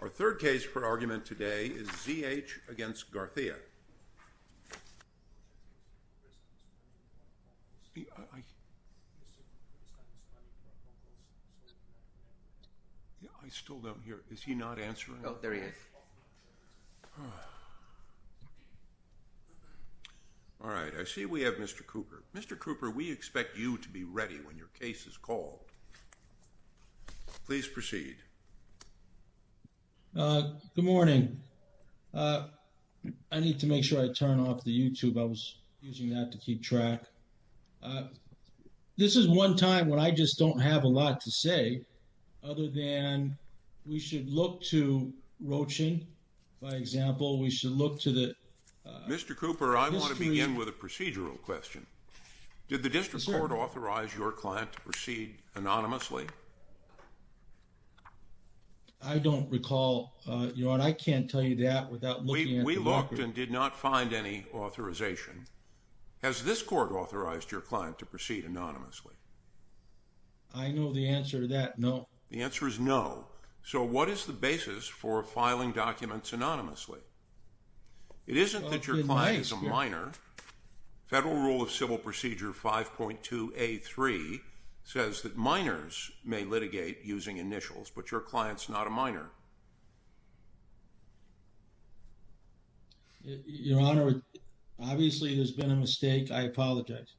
Our third case for argument today is Z. H. v. Garcia. I still don't hear. Is he not answering? Oh, there he is. All right. I see we have Mr. Cooper. Mr. Cooper, we expect you to be ready when your case is called. Please proceed. Good morning. I need to make sure I turn off the YouTube. I was using that to keep track. This is one time when I just don't have a lot to say other than we should look to Rochin, for example. We should look to the Mr. Cooper. I want to begin with a procedural question. Did the district court authorize your client to proceed anonymously? I don't recall. I can't tell you that without looking. We looked and did not find any authorization. Has this court authorized your client to proceed anonymously? I know the answer to that. No. The answer is no. So what is the basis for filing documents anonymously? It isn't that your client is a minor. Federal Rule of Civil Procedure 5.2A3 says that minors may litigate using initials, but your client's not a minor. Your Honor, obviously there's been a mistake. I apologize.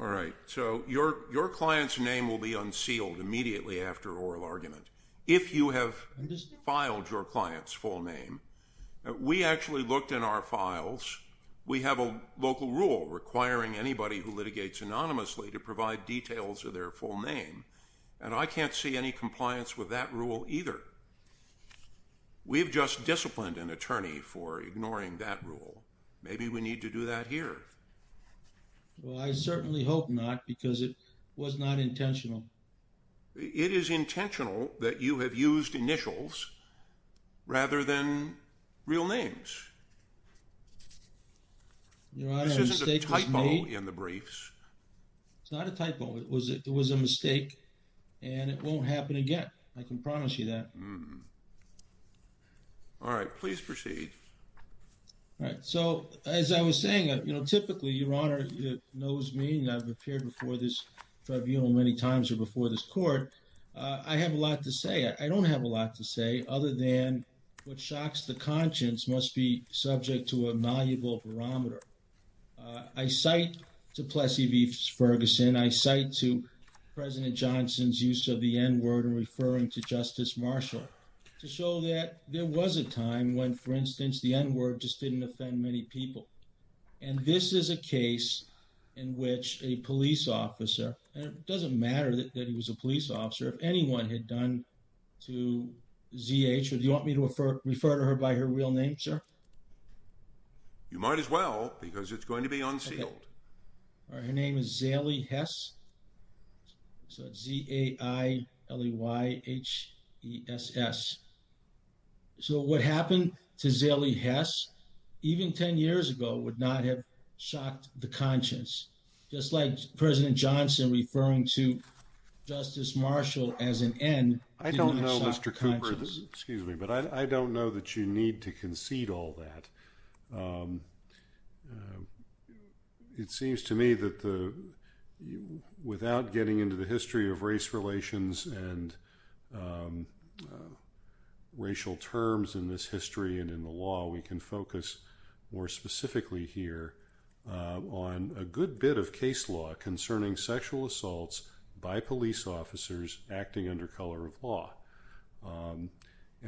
All right. So your client's name will be unsealed immediately after oral argument. If you have filed your client's full name. We actually looked in our files. We have a local rule requiring anybody who litigates anonymously to provide details of their full name. And I can't see any compliance with that rule either. We've just disciplined an attorney for ignoring that rule. Maybe we need to do that here. Well, I certainly hope not because it was not intentional. It is intentional that you have used initials rather than real names. Your Honor, a mistake was made. This isn't a typo in the briefs. It's not a typo. It was a mistake and it won't happen again. I can promise you that. All right. Please proceed. All right. So as I was saying, you know, typically, Your Honor knows me. I've appeared before this tribunal many times or before this court. I have a lot to say. I don't have a lot to say other than what shocks the conscience must be subject to a malleable barometer. I cite to Plessy v. Ferguson. I cite to President Johnson's use of the N word referring to Justice Marshall to show that there was a time when, for instance, the N word just didn't offend many people. And this is a case in which a police officer, and it doesn't matter that he was a police officer, if anyone had done to Z.H. or do you want me to refer to her by her real name, sir? You might as well because it's going to be unsealed. Her name is Zaeli Hess. So Z-A-I-L-E-Y-H-E-S-S. So what happened to Zaeli Hess, even 10 years ago, would not have shocked the conscience. Just like President Johnson referring to Justice Marshall as an N didn't shock the conscience. I don't know, Mr. Cooper, excuse me, but I don't know that you need to concede all that. It seems to me that without getting into the history of race relations and racial terms in this history and in the law, we can focus more specifically here on a good bit of case law concerning sexual assaults by police officers acting under color of law.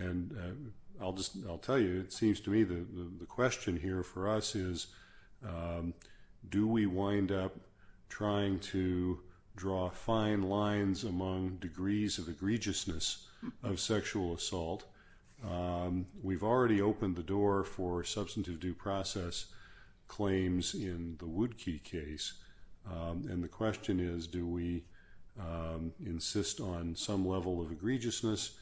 And I'll tell you, it seems to me that the question here for us is, do we wind up trying to draw fine lines among degrees of egregiousness of sexual assault? We've already opened the door for substantive due process claims in the Woodkey case. And the question is, do we insist on some level of egregiousness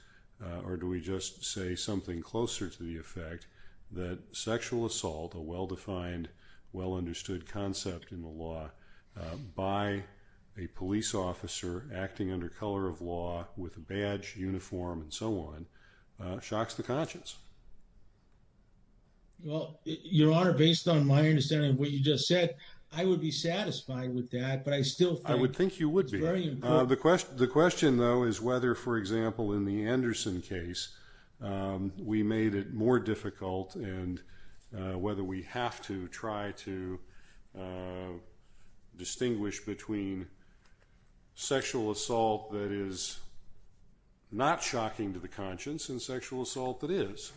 or do we just say something closer to the effect that sexual assault, a well-defined, well-understood concept in the law by a police officer acting under color of law with a badge, uniform and so on, shocks the conscience? Well, Your Honor, based on my understanding of what you just said, I would be satisfied with that. But I still think I would think you would be. The question the question, though, is whether, for example, in the Anderson case, we made it more difficult. And whether we have to try to distinguish between sexual assault that is not shocking to the conscience and sexual assault that is.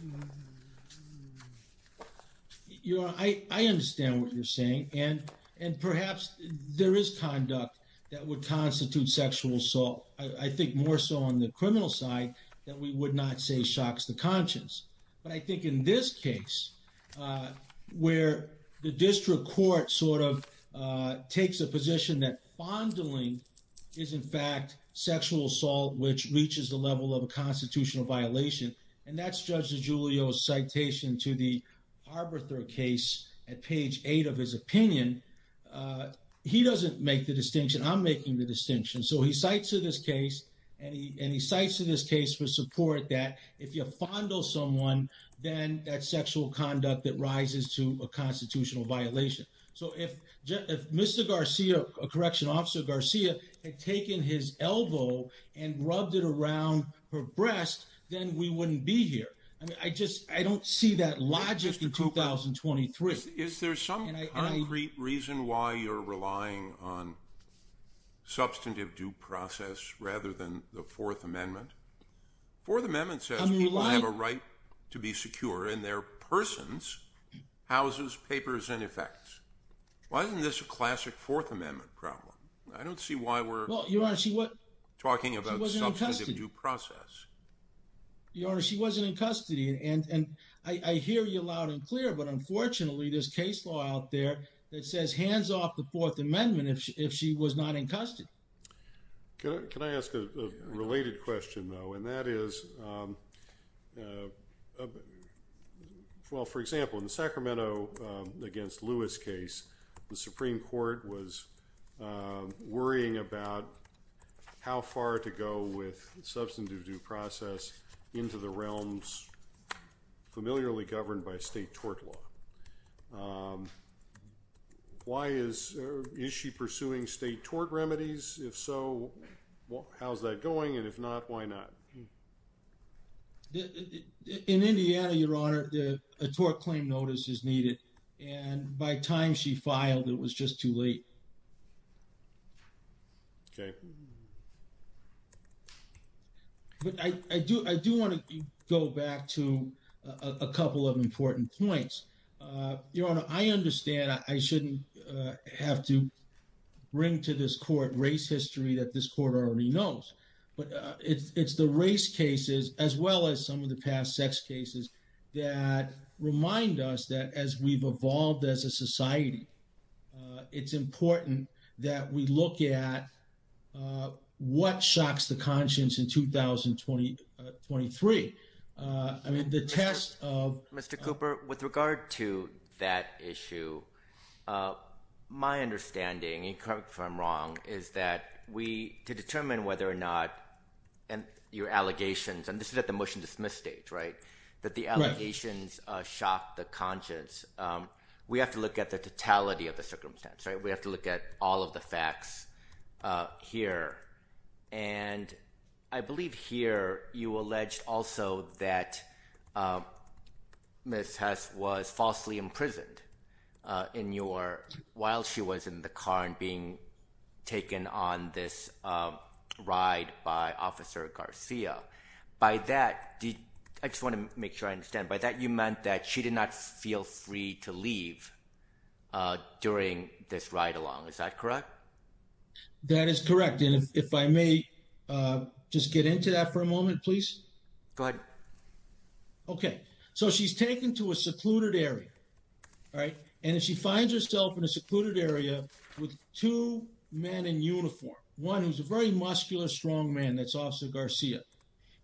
Your Honor, I understand what you're saying. And perhaps there is conduct that would constitute sexual assault. I think more so on the criminal side that we would not say shocks the conscience. But I think in this case, where the district court sort of takes a position that fondling is, in fact, sexual assault, which reaches the level of a constitutional violation. And that's Judge DiGiulio's citation to the Arbiter case at page eight of his opinion. He doesn't make the distinction. I'm making the distinction. So he cites to this case and he cites to this case for support that if you fondle someone, then that's sexual conduct that rises to a constitutional violation. So if Mr. Garcia, a correctional officer, Garcia, had taken his elbow and rubbed it around her breast, then we wouldn't be here. I mean, I just I don't see that logic in 2023. Is there some concrete reason why you're relying on substantive due process rather than the Fourth Amendment? Fourth Amendment says people have a right to be secure in their persons, houses, papers, and effects. Why isn't this a classic Fourth Amendment problem? I don't see why we're talking about substantive due process. Your Honor, she wasn't in custody. And I hear you loud and clear. But unfortunately, there's case law out there that says hands off the Fourth Amendment if she was not in custody. Can I ask a related question, though? And that is, well, for example, in the Sacramento against Lewis case, the Supreme Court was worrying about how far to go with substantive due process into the realms familiarly governed by state tort law. Why is she pursuing state tort remedies? If so, how's that going? And if not, why not? In Indiana, Your Honor, a tort claim notice is needed. And by time she filed, it was just too late. Okay. But I do want to go back to a couple of important points. Your Honor, I understand I shouldn't have to bring to this court race history that this court already knows. But it's the race cases as well as some of the past sex cases that remind us that as we've evolved as a society, it's important that we look at what shocks the conscience in 2023. Mr. Cooper, with regard to that issue, my understanding, and correct me if I'm wrong, is that to determine whether or not your allegations, and this is at the motion dismiss stage, right, that the allegations shock the conscience, we have to look at the totality of the circumstance. We have to look at all of the facts here. And I believe here you alleged also that Ms. Hess was falsely imprisoned while she was in the car and being taken on this ride by Officer Garcia. By that, I just want to make sure I understand, by that you meant that she did not feel free to leave during this ride-along. Is that correct? That is correct. And if I may just get into that for a moment, please. Go ahead. Okay. So she's taken to a secluded area, right, and she finds herself in a secluded area with two men in uniform. One who's a very muscular, strong man that's Officer Garcia.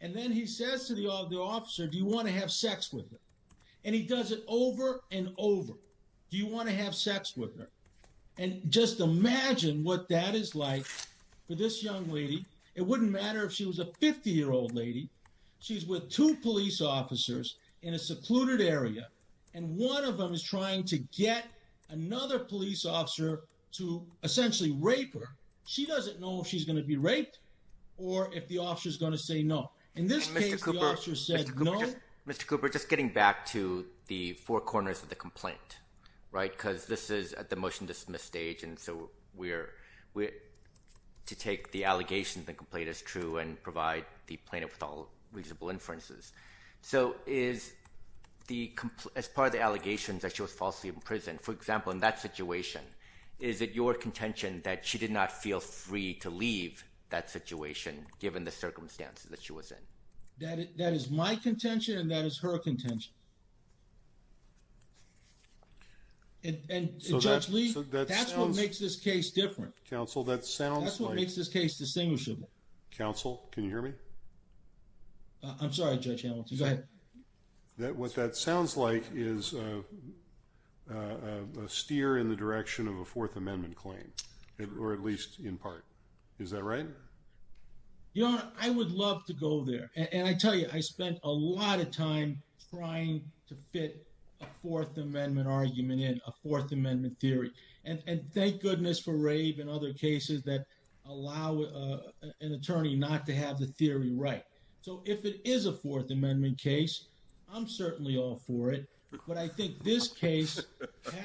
And then he says to the officer, do you want to have sex with me? And he does it over and over. Do you want to have sex with me? And just imagine what that is like for this young lady. It wouldn't matter if she was a 50-year-old lady. She's with two police officers in a secluded area, and one of them is trying to get another police officer to essentially rape her. She doesn't know if she's going to be raped or if the officer is going to say no. In this case, the officer said no. Mr. Cooper, just getting back to the four corners of the complaint, right, because this is at the motion-dismiss stage, and so we're to take the allegation that the complaint is true and provide the plaintiff with all reasonable inferences. So as part of the allegations that she was falsely imprisoned, for example, in that situation, is it your contention that she did not feel free to leave that situation given the circumstances that she was in? That is my contention, and that is her contention. And, Judge Lee, that's what makes this case different. Counsel, that sounds like— That's what makes this case distinguishable. Counsel, can you hear me? I'm sorry, Judge Hamilton. Go ahead. What that sounds like is a steer in the direction of a Fourth Amendment claim, or at least in part. Is that right? Your Honor, I would love to go there. And I tell you, I spent a lot of time trying to fit a Fourth Amendment argument in, a Fourth Amendment theory. And thank goodness for Rave and other cases that allow an attorney not to have the theory right. So if it is a Fourth Amendment case, I'm certainly all for it. But I think this case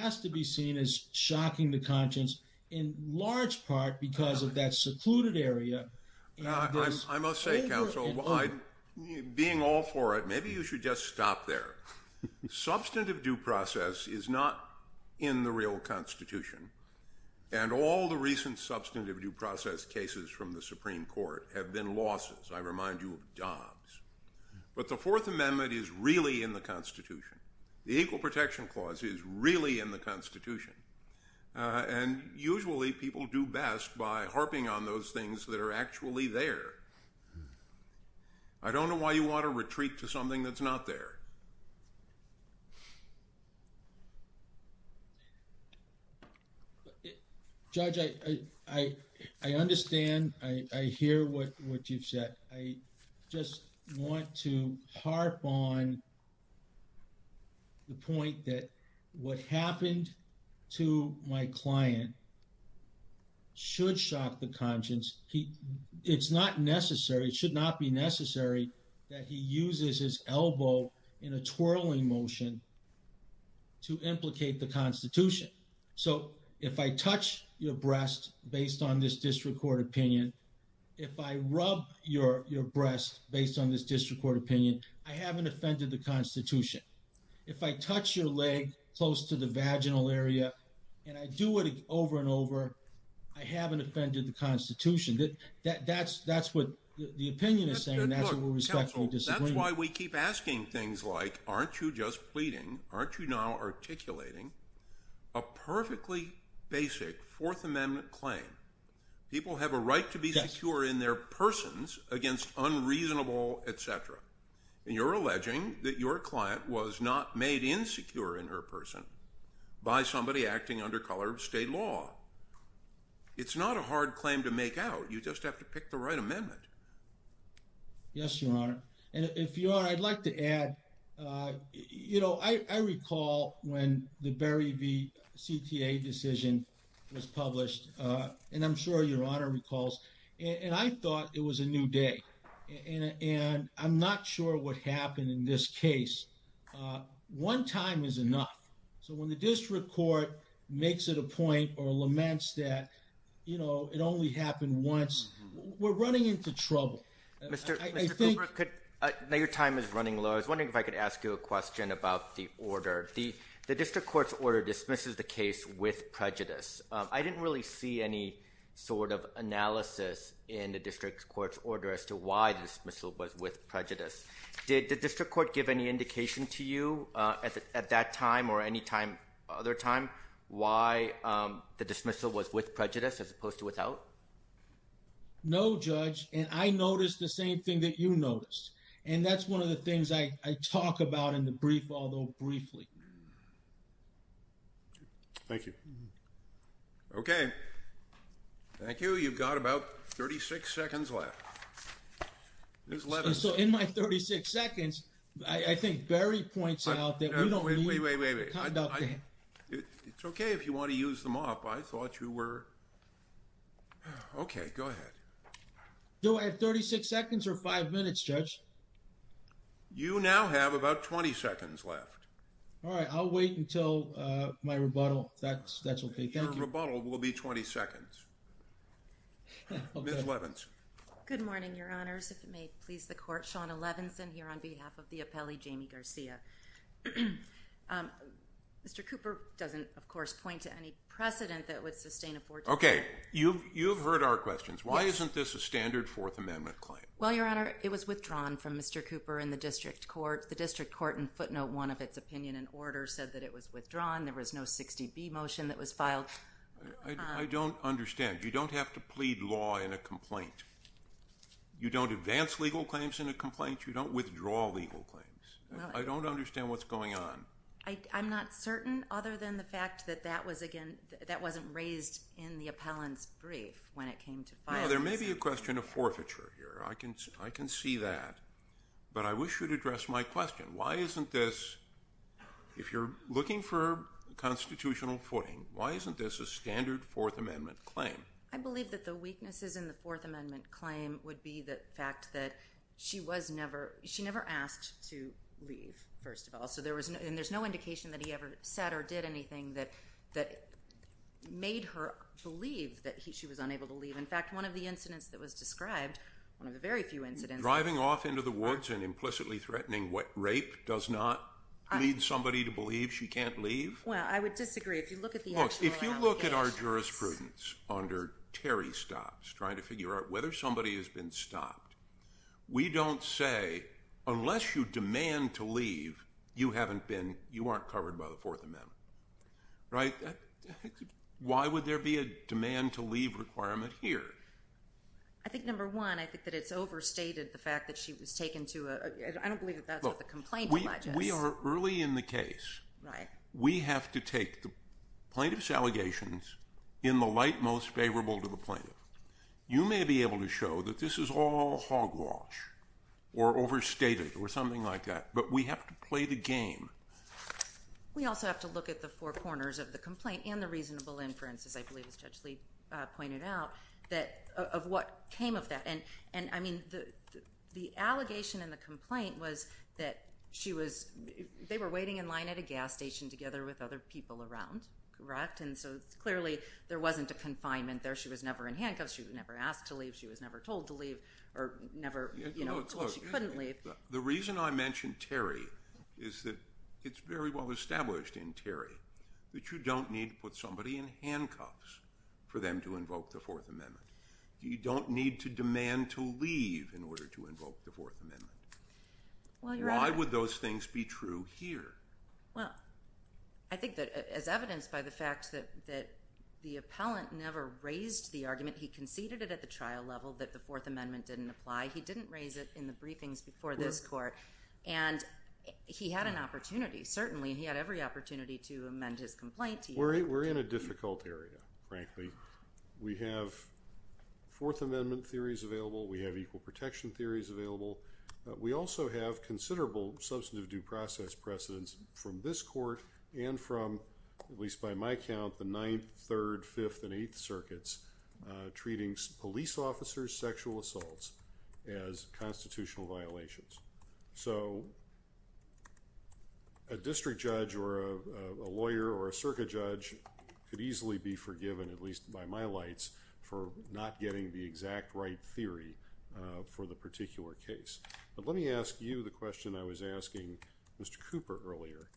has to be seen as shocking to conscience in large part because of that secluded area. I must say, Counsel, being all for it, maybe you should just stop there. Substantive due process is not in the real Constitution. And all the recent substantive due process cases from the Supreme Court have been losses. I remind you of Dobbs. But the Fourth Amendment is really in the Constitution. The Equal Protection Clause is really in the Constitution. And usually people do best by harping on those things that are actually there. I don't know why you want to retreat to something that's not there. Judge, I understand. I hear what you've said. I just want to harp on the point that what happened to my client should shock the conscience. It's not necessary, it should not be necessary that he uses his elbow in a twirling motion to implicate the Constitution. So if I touch your breast based on this district court opinion, if I rub your breast based on this district court opinion, I haven't offended the Constitution. If I touch your leg close to the vaginal area and I do it over and over, I haven't offended the Constitution. That's what the opinion is saying. That's why we keep asking things like, aren't you just pleading? Aren't you now articulating a perfectly basic Fourth Amendment claim? People have a right to be secure in their persons against unreasonable, et cetera. And you're alleging that your client was not made insecure in her person by somebody acting under color of state law. It's not a hard claim to make out. You just have to pick the right amendment. Yes, Your Honor. And if you are, I'd like to add, you know, I recall when the Berry v. CTA decision was published, and I'm sure Your Honor recalls, and I thought it was a new day. And I'm not sure what happened in this case. One time is enough. So when the district court makes it a point or laments that, you know, it only happened once, we're running into trouble. Mr. Cooper, I know your time is running low. I was wondering if I could ask you a question about the order. The district court's order dismisses the case with prejudice. I didn't really see any sort of analysis in the district court's order as to why the dismissal was with prejudice. Did the district court give any indication to you at that time or any other time why the dismissal was with prejudice as opposed to without? No, Judge, and I noticed the same thing that you noticed. And that's one of the things I talk about in the brief, although briefly. Thank you. Okay. Thank you. You've got about 36 seconds left. So in my 36 seconds, I think Berry points out that we don't need to conduct a. It's okay if you want to use them up. I thought you were. Okay, go ahead. Do I have 36 seconds or five minutes, Judge? You now have about 20 seconds left. All right. I'll wait until my rebuttal. That's okay. Thank you. Your rebuttal will be 20 seconds. Ms. Levinson. Good morning, Your Honors. If it may please the Court, Shawna Levinson here on behalf of the appellee, Jamie Garcia. Mr. Cooper doesn't, of course, point to any precedent that would sustain a 14-year. Okay. You've heard our questions. Why isn't this a standard Fourth Amendment claim? Well, Your Honor, it was withdrawn from Mr. Cooper in the district court. The district court in footnote 1 of its opinion and order said that it was withdrawn. There was no 60B motion that was filed. I don't understand. You don't have to plead law in a complaint. You don't advance legal claims in a complaint. You don't withdraw legal claims. I don't understand what's going on. I'm not certain other than the fact that that wasn't raised in the appellant's brief when it came to filing. Now, there may be a question of forfeiture here. I can see that. But I wish you'd address my question. Why isn't this, if you're looking for constitutional footing, why isn't this a standard Fourth Amendment claim? I believe that the weaknesses in the Fourth Amendment claim would be the fact that she never asked to leave, first of all. And there's no indication that he ever said or did anything that made her believe that she was unable to leave. In fact, one of the incidents that was described, one of the very few incidents. Driving off into the woods and implicitly threatening rape does not lead somebody to believe she can't leave? Well, I would disagree. If you look at the actual allegations. Look, if you look at our jurisprudence under Terry stops, trying to figure out whether somebody has been stopped, we don't say unless you demand to leave, you haven't been, you aren't covered by the Fourth Amendment. Right. Why would there be a demand to leave requirement here? I think, number one, I think that it's overstated the fact that she was taken to a, I don't believe that that's what the complaint alleges. We are early in the case. Right. We have to take the plaintiff's allegations in the light most favorable to the plaintiff. You may be able to show that this is all hogwash or overstated or something like that. But we have to play the game. We also have to look at the four corners of the complaint and the reasonable inference, as I believe as Judge Lee pointed out, of what came of that. And, I mean, the allegation in the complaint was that she was, they were waiting in line at a gas station together with other people around. Correct? And so clearly there wasn't a confinement there. She was never in handcuffs. She was never asked to leave. She was never told to leave or never, you know, she couldn't leave. The reason I mentioned Terry is that it's very well established in Terry that you don't need to put somebody in handcuffs for them to invoke the Fourth Amendment. You don't need to demand to leave in order to invoke the Fourth Amendment. Why would those things be true here? Well, I think that as evidenced by the fact that the appellant never raised the argument, he conceded it at the trial level, that the Fourth Amendment didn't apply. He didn't raise it in the briefings before this court, and he had an opportunity. Certainly, he had every opportunity to amend his complaint. We're in a difficult area, frankly. We have Fourth Amendment theories available. We have equal protection theories available. We also have considerable substantive due process precedents from this court and from, at least by my count, the Ninth, Third, Fifth, and Eighth Circuits treating police officers' sexual assaults as constitutional violations. So a district judge or a lawyer or a circuit judge could easily be forgiven, at least by my lights, for not getting the exact right theory for the particular case. But let me ask you the question I was asking Mr. Cooper earlier.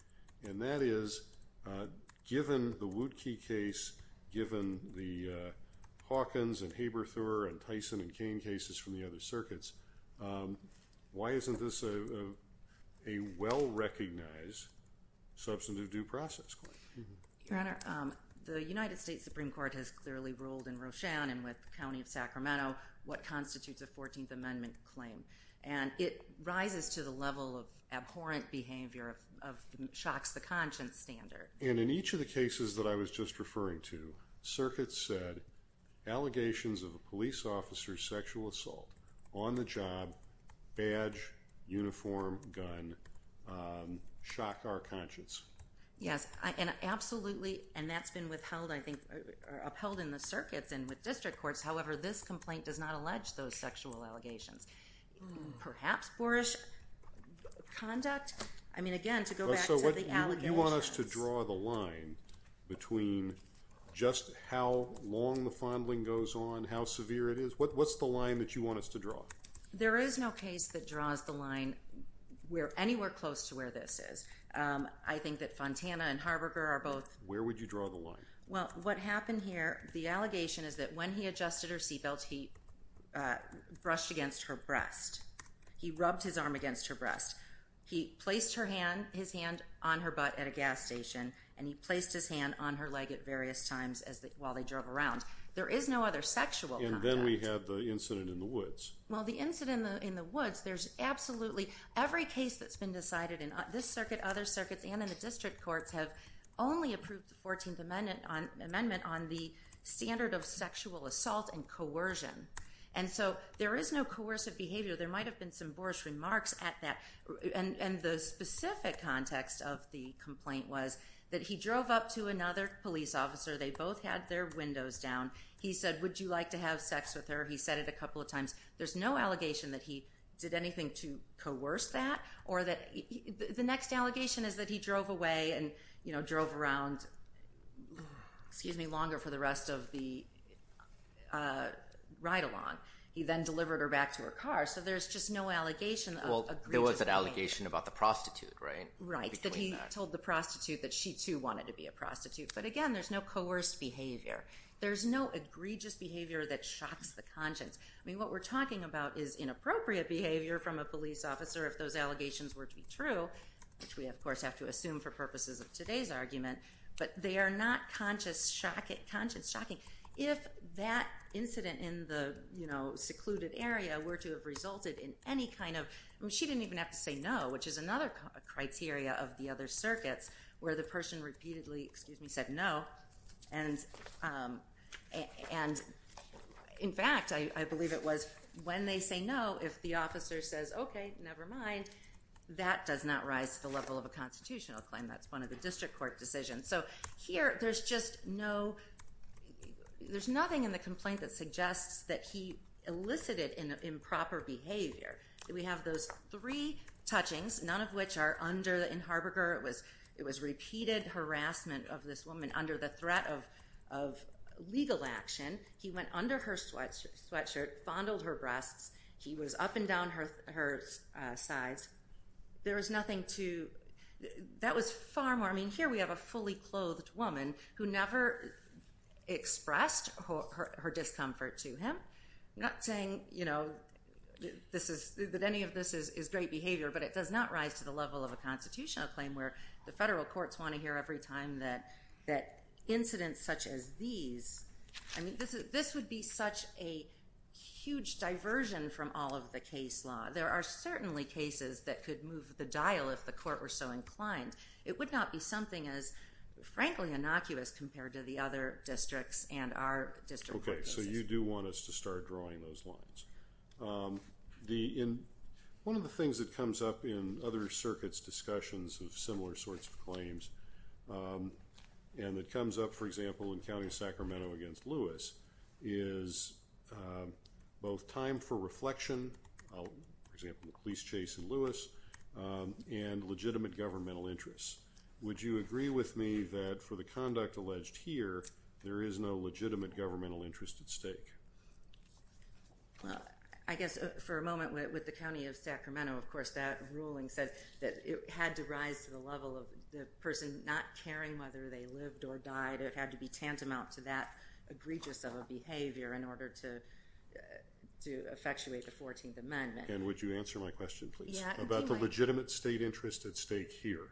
And that is, given the Wootke case, given the Hawkins and Haberthorne and Tyson and Kane cases from the other circuits, why isn't this a well-recognized substantive due process claim? Your Honor, the United States Supreme Court has clearly ruled in Roshan and with the county of Sacramento what constitutes a Fourteenth Amendment claim. And it rises to the level of abhorrent behavior, of shocks the conscience standard. And in each of the cases that I was just referring to, circuits said allegations of a police officer's sexual assault on the job, badge, uniform, gun, shock our conscience. Yes, and absolutely. And that's been withheld, I think, or upheld in the circuits and with district courts. However, this complaint does not allege those sexual allegations. Perhaps boorish conduct? I mean, again, to go back to the allegations. You want us to draw the line between just how long the fondling goes on, how severe it is? What's the line that you want us to draw? There is no case that draws the line anywhere close to where this is. I think that Fontana and Harberger are both... Where would you draw the line? Well, what happened here, the allegation is that when he adjusted her seatbelt, he brushed against her breast. He rubbed his arm against her breast. He placed his hand on her butt at a gas station, and he placed his hand on her leg at various times while they drove around. There is no other sexual contact. Well, the incident in the woods, there's absolutely... Every case that's been decided in this circuit, other circuits, and in the district courts have only approved the 14th Amendment on the standard of sexual assault and coercion. And so there is no coercive behavior. There might have been some boorish remarks at that. And the specific context of the complaint was that he drove up to another police officer. They both had their windows down. He said, would you like to have sex with her? He said it a couple of times. There's no allegation that he did anything to coerce that. The next allegation is that he drove away and drove around longer for the rest of the ride-along. He then delivered her back to her car. So there's just no allegation of egregious behavior. Well, there was an allegation about the prostitute, right? Right, that he told the prostitute that she, too, wanted to be a prostitute. But again, there's no coerced behavior. There's no egregious behavior that shocks the conscience. I mean, what we're talking about is inappropriate behavior from a police officer if those allegations were to be true, which we, of course, have to assume for purposes of today's argument. But they are not conscience-shocking. If that incident in the secluded area were to have resulted in any kind of— I mean, she didn't even have to say no, which is another criteria of the other circuits, where the person repeatedly said no. And, in fact, I believe it was when they say no, if the officer says, okay, never mind, that does not rise to the level of a constitutional claim. That's one of the district court decisions. So here there's just no—there's nothing in the complaint that suggests that he elicited improper behavior. We have those three touchings, none of which are under—in Harberger, it was repeated harassment of this woman under the threat of legal action. He went under her sweatshirt, fondled her breasts. He was up and down her sides. There was nothing to—that was far more—I mean, here we have a fully clothed woman who never expressed her discomfort to him. I'm not saying, you know, that any of this is great behavior, but it does not rise to the level of a constitutional claim, where the federal courts want to hear every time that incidents such as these— I mean, this would be such a huge diversion from all of the case law. There are certainly cases that could move the dial if the court were so inclined. It would not be something as, frankly, innocuous compared to the other districts and our district court decisions. So you do want us to start drawing those lines. One of the things that comes up in other circuits' discussions of similar sorts of claims, and it comes up, for example, in County of Sacramento against Lewis, is both time for reflection, for example, the police chase in Lewis, and legitimate governmental interests. Would you agree with me that for the conduct alleged here, there is no legitimate governmental interest at stake? Well, I guess for a moment with the County of Sacramento, of course, that ruling said that it had to rise to the level of the person not caring whether they lived or died. It had to be tantamount to that egregious of a behavior in order to effectuate the 14th Amendment. And would you answer my question, please? About the legitimate state interest at stake here?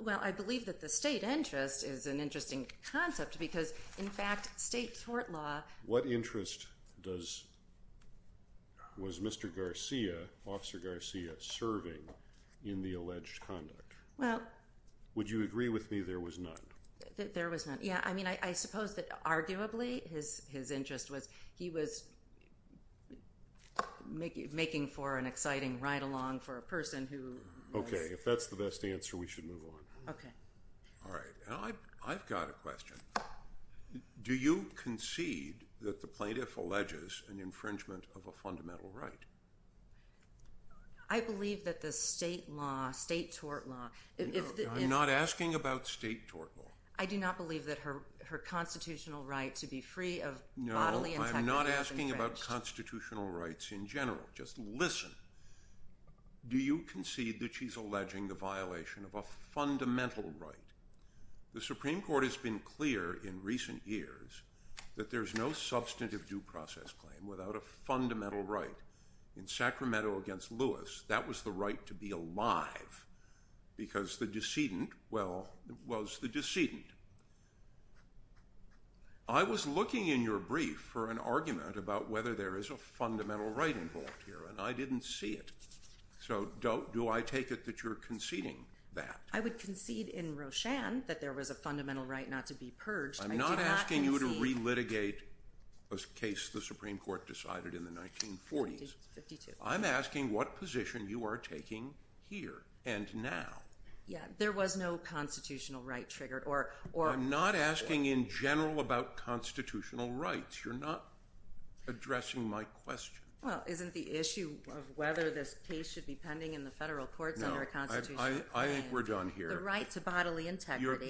Well, I believe that the state interest is an interesting concept because, in fact, state court law— What interest was Mr. Garcia, Officer Garcia, serving in the alleged conduct? Well— Would you agree with me there was none? There was none. Yeah, I mean, I suppose that arguably his interest was he was making for an exciting ride-along for a person who— Okay, if that's the best answer, we should move on. Okay. All right. I've got a question. Do you concede that the plaintiff alleges an infringement of a fundamental right? I believe that the state law, state tort law— I'm not asking about state tort law. I do not believe that her constitutional right to be free of bodily and technical infringements— No, I'm not asking about constitutional rights in general. Just listen. Do you concede that she's alleging the violation of a fundamental right? The Supreme Court has been clear in recent years that there's no substantive due process claim without a fundamental right. In Sacramento against Lewis, that was the right to be alive because the decedent, well, was the decedent. I was looking in your brief for an argument about whether there is a fundamental right involved here, and I didn't see it. So do I take it that you're conceding that? I would concede in Roshan that there was a fundamental right not to be purged. I do not concede— I'm not asking you to relitigate a case the Supreme Court decided in the 1940s. I'm asking what position you are taking here and now. Yeah, there was no constitutional right triggered or— I'm not asking in general about constitutional rights. You're not addressing my question. Well, isn't the issue of whether this case should be pending in the federal courts under a constitutional claim— No, I think we're done here.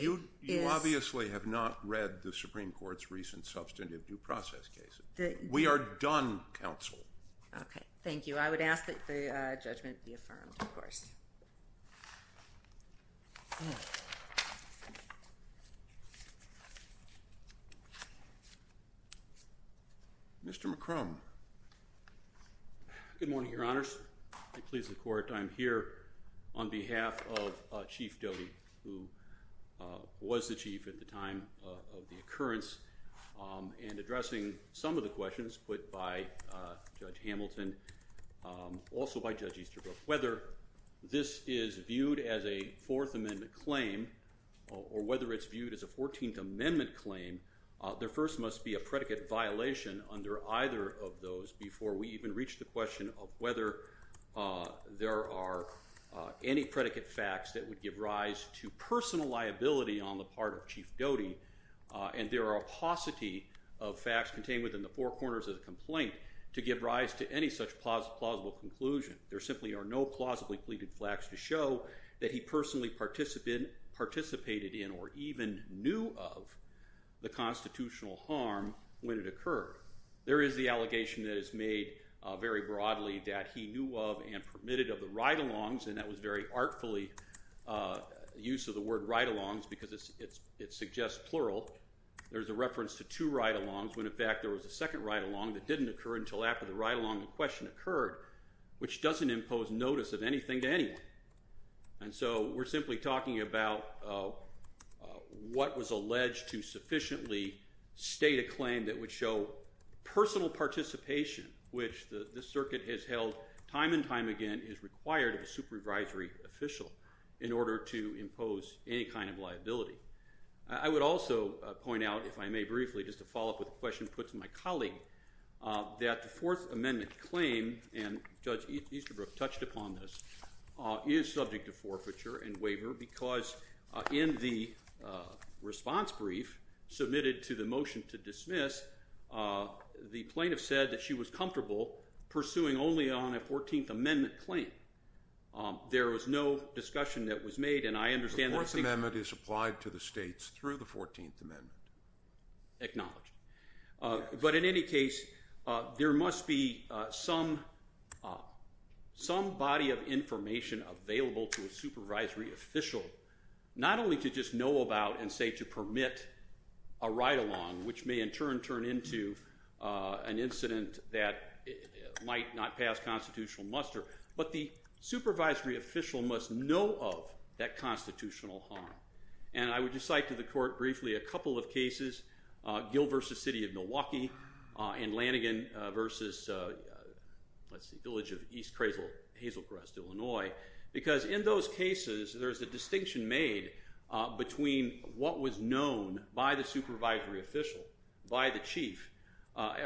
You obviously have not read the Supreme Court's recent substantive due process case. We are done, counsel. Okay, thank you. I would ask that the judgment be affirmed, of course. Mr. McCrum. Good morning, Your Honors. I please the Court. I'm here on behalf of Chief Doty, who was the chief at the time of the occurrence, and addressing some of the questions put by Judge Hamilton, also by Judge Easterbrook. Whether this is viewed as a Fourth Amendment claim or whether it's viewed as a Fourteenth Amendment claim, there first must be a predicate violation under either of those before we even reach the question of whether there are any predicate facts that would give rise to personal liability on the part of Chief Doty, and there are a paucity of facts contained within the four corners of the complaint to give rise to any such plausible conclusion. There simply are no plausibly pleaded facts to show that he personally participated in or even knew of the constitutional harm when it occurred. There is the allegation that is made very broadly that he knew of and permitted of the ride-alongs, and that was very artfully the use of the word ride-alongs because it suggests plural. There's a reference to two ride-alongs when, in fact, there was a second ride-along that didn't occur until after the ride-along question occurred, which doesn't impose notice of anything to anyone. And so we're simply talking about what was alleged to sufficiently state a claim that would show personal participation, which the circuit has held time and time again is required of a supervisory official in order to impose any kind of liability. I would also point out, if I may briefly, just to follow up with a question put to my colleague, that the Fourth Amendment claim, and Judge Easterbrook touched upon this, is subject to forfeiture and waiver because in the response brief submitted to the motion to dismiss, the plaintiff said that she was comfortable pursuing only on a Fourteenth Amendment claim. There was no discussion that was made, and I understand that the Fourth Amendment is applied to the states through the Fourteenth Amendment. Acknowledged. But in any case, there must be some body of information available to a supervisory official, not only to just know about and say to permit a ride-along, which may in turn turn into an incident that might not pass constitutional muster, but the supervisory official must know of that constitutional harm. And I would just cite to the court briefly a couple of cases, Gill v. City of Milwaukee, and Lanigan v. Village of East Hazelcrest, Illinois, because in those cases there is a distinction made between what was known by the supervisory official, by the chief,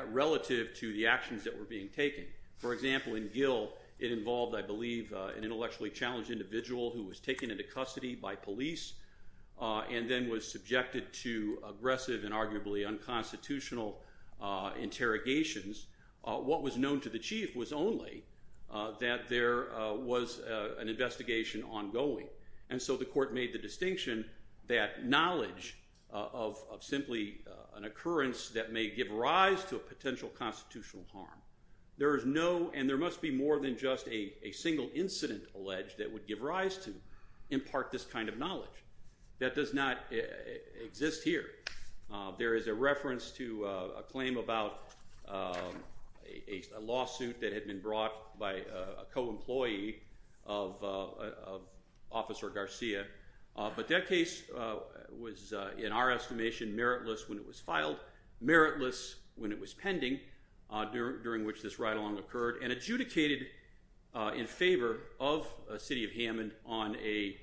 relative to the actions that were being taken. For example, in Gill, it involved, I believe, an intellectually challenged individual who was taken into custody by police and then was subjected to aggressive and arguably unconstitutional interrogations. What was known to the chief was only that there was an investigation ongoing, and so the court made the distinction that knowledge of simply an occurrence that may give rise to a potential constitutional harm. There is no and there must be more than just a single incident alleged that would give rise to in part this kind of knowledge. That does not exist here. There is a reference to a claim about a lawsuit that had been brought by a co-employee of Officer Garcia, but that case was in our estimation meritless when it was filed, meritless when it was pending during which this ride-along occurred, and adjudicated in favor of the City of Hammond on a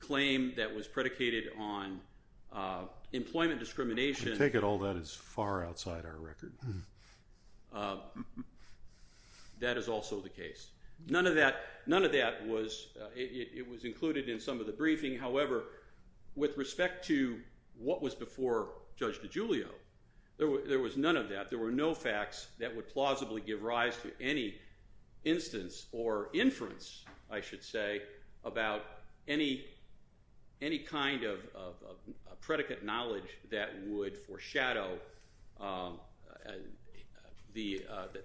claim that was predicated on employment discrimination. I take it all that is far outside our record. That is also the case. None of that was included in some of the briefing. However, with respect to what was before Judge DiGiulio, there was none of that. There were no facts that would plausibly give rise to any instance or inference, I should say, about any kind of predicate knowledge that would foreshadow that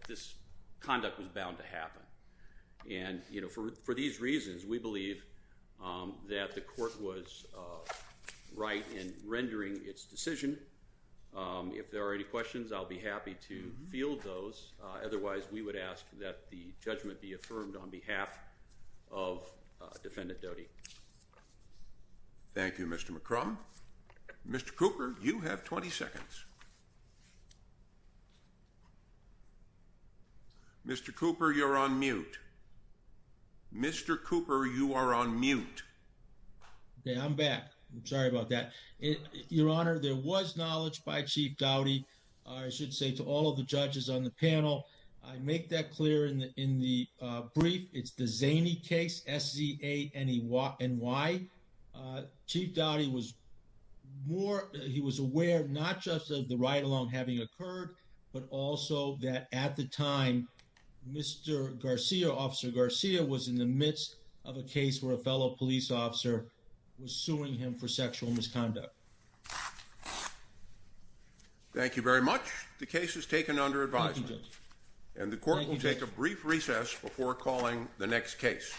this conduct was bound to happen. For these reasons, we believe that the court was right in rendering its decision. If there are any questions, I'll be happy to field those. Otherwise, we would ask that the judgment be affirmed on behalf of Defendant Doty. Thank you, Mr. McCrum. Mr. Cooper, you have 20 seconds. Mr. Cooper, you're on mute. Mr. Cooper, you are on mute. Okay, I'm back. I'm sorry about that. Your Honor, there was knowledge by Chief Doty, I should say, to all of the judges on the panel. I make that clear in the brief. It's the Zaney case, S-Z-A-N-E-Y. Chief Doty was aware not just of the ride-along having occurred, but also that at the time, Mr. Garcia, Officer Garcia, was in the midst of a case where a fellow police officer was suing him for sexual misconduct. Thank you very much. The case is taken under advisement. And the court will take a brief recess before calling the next case. Thank you.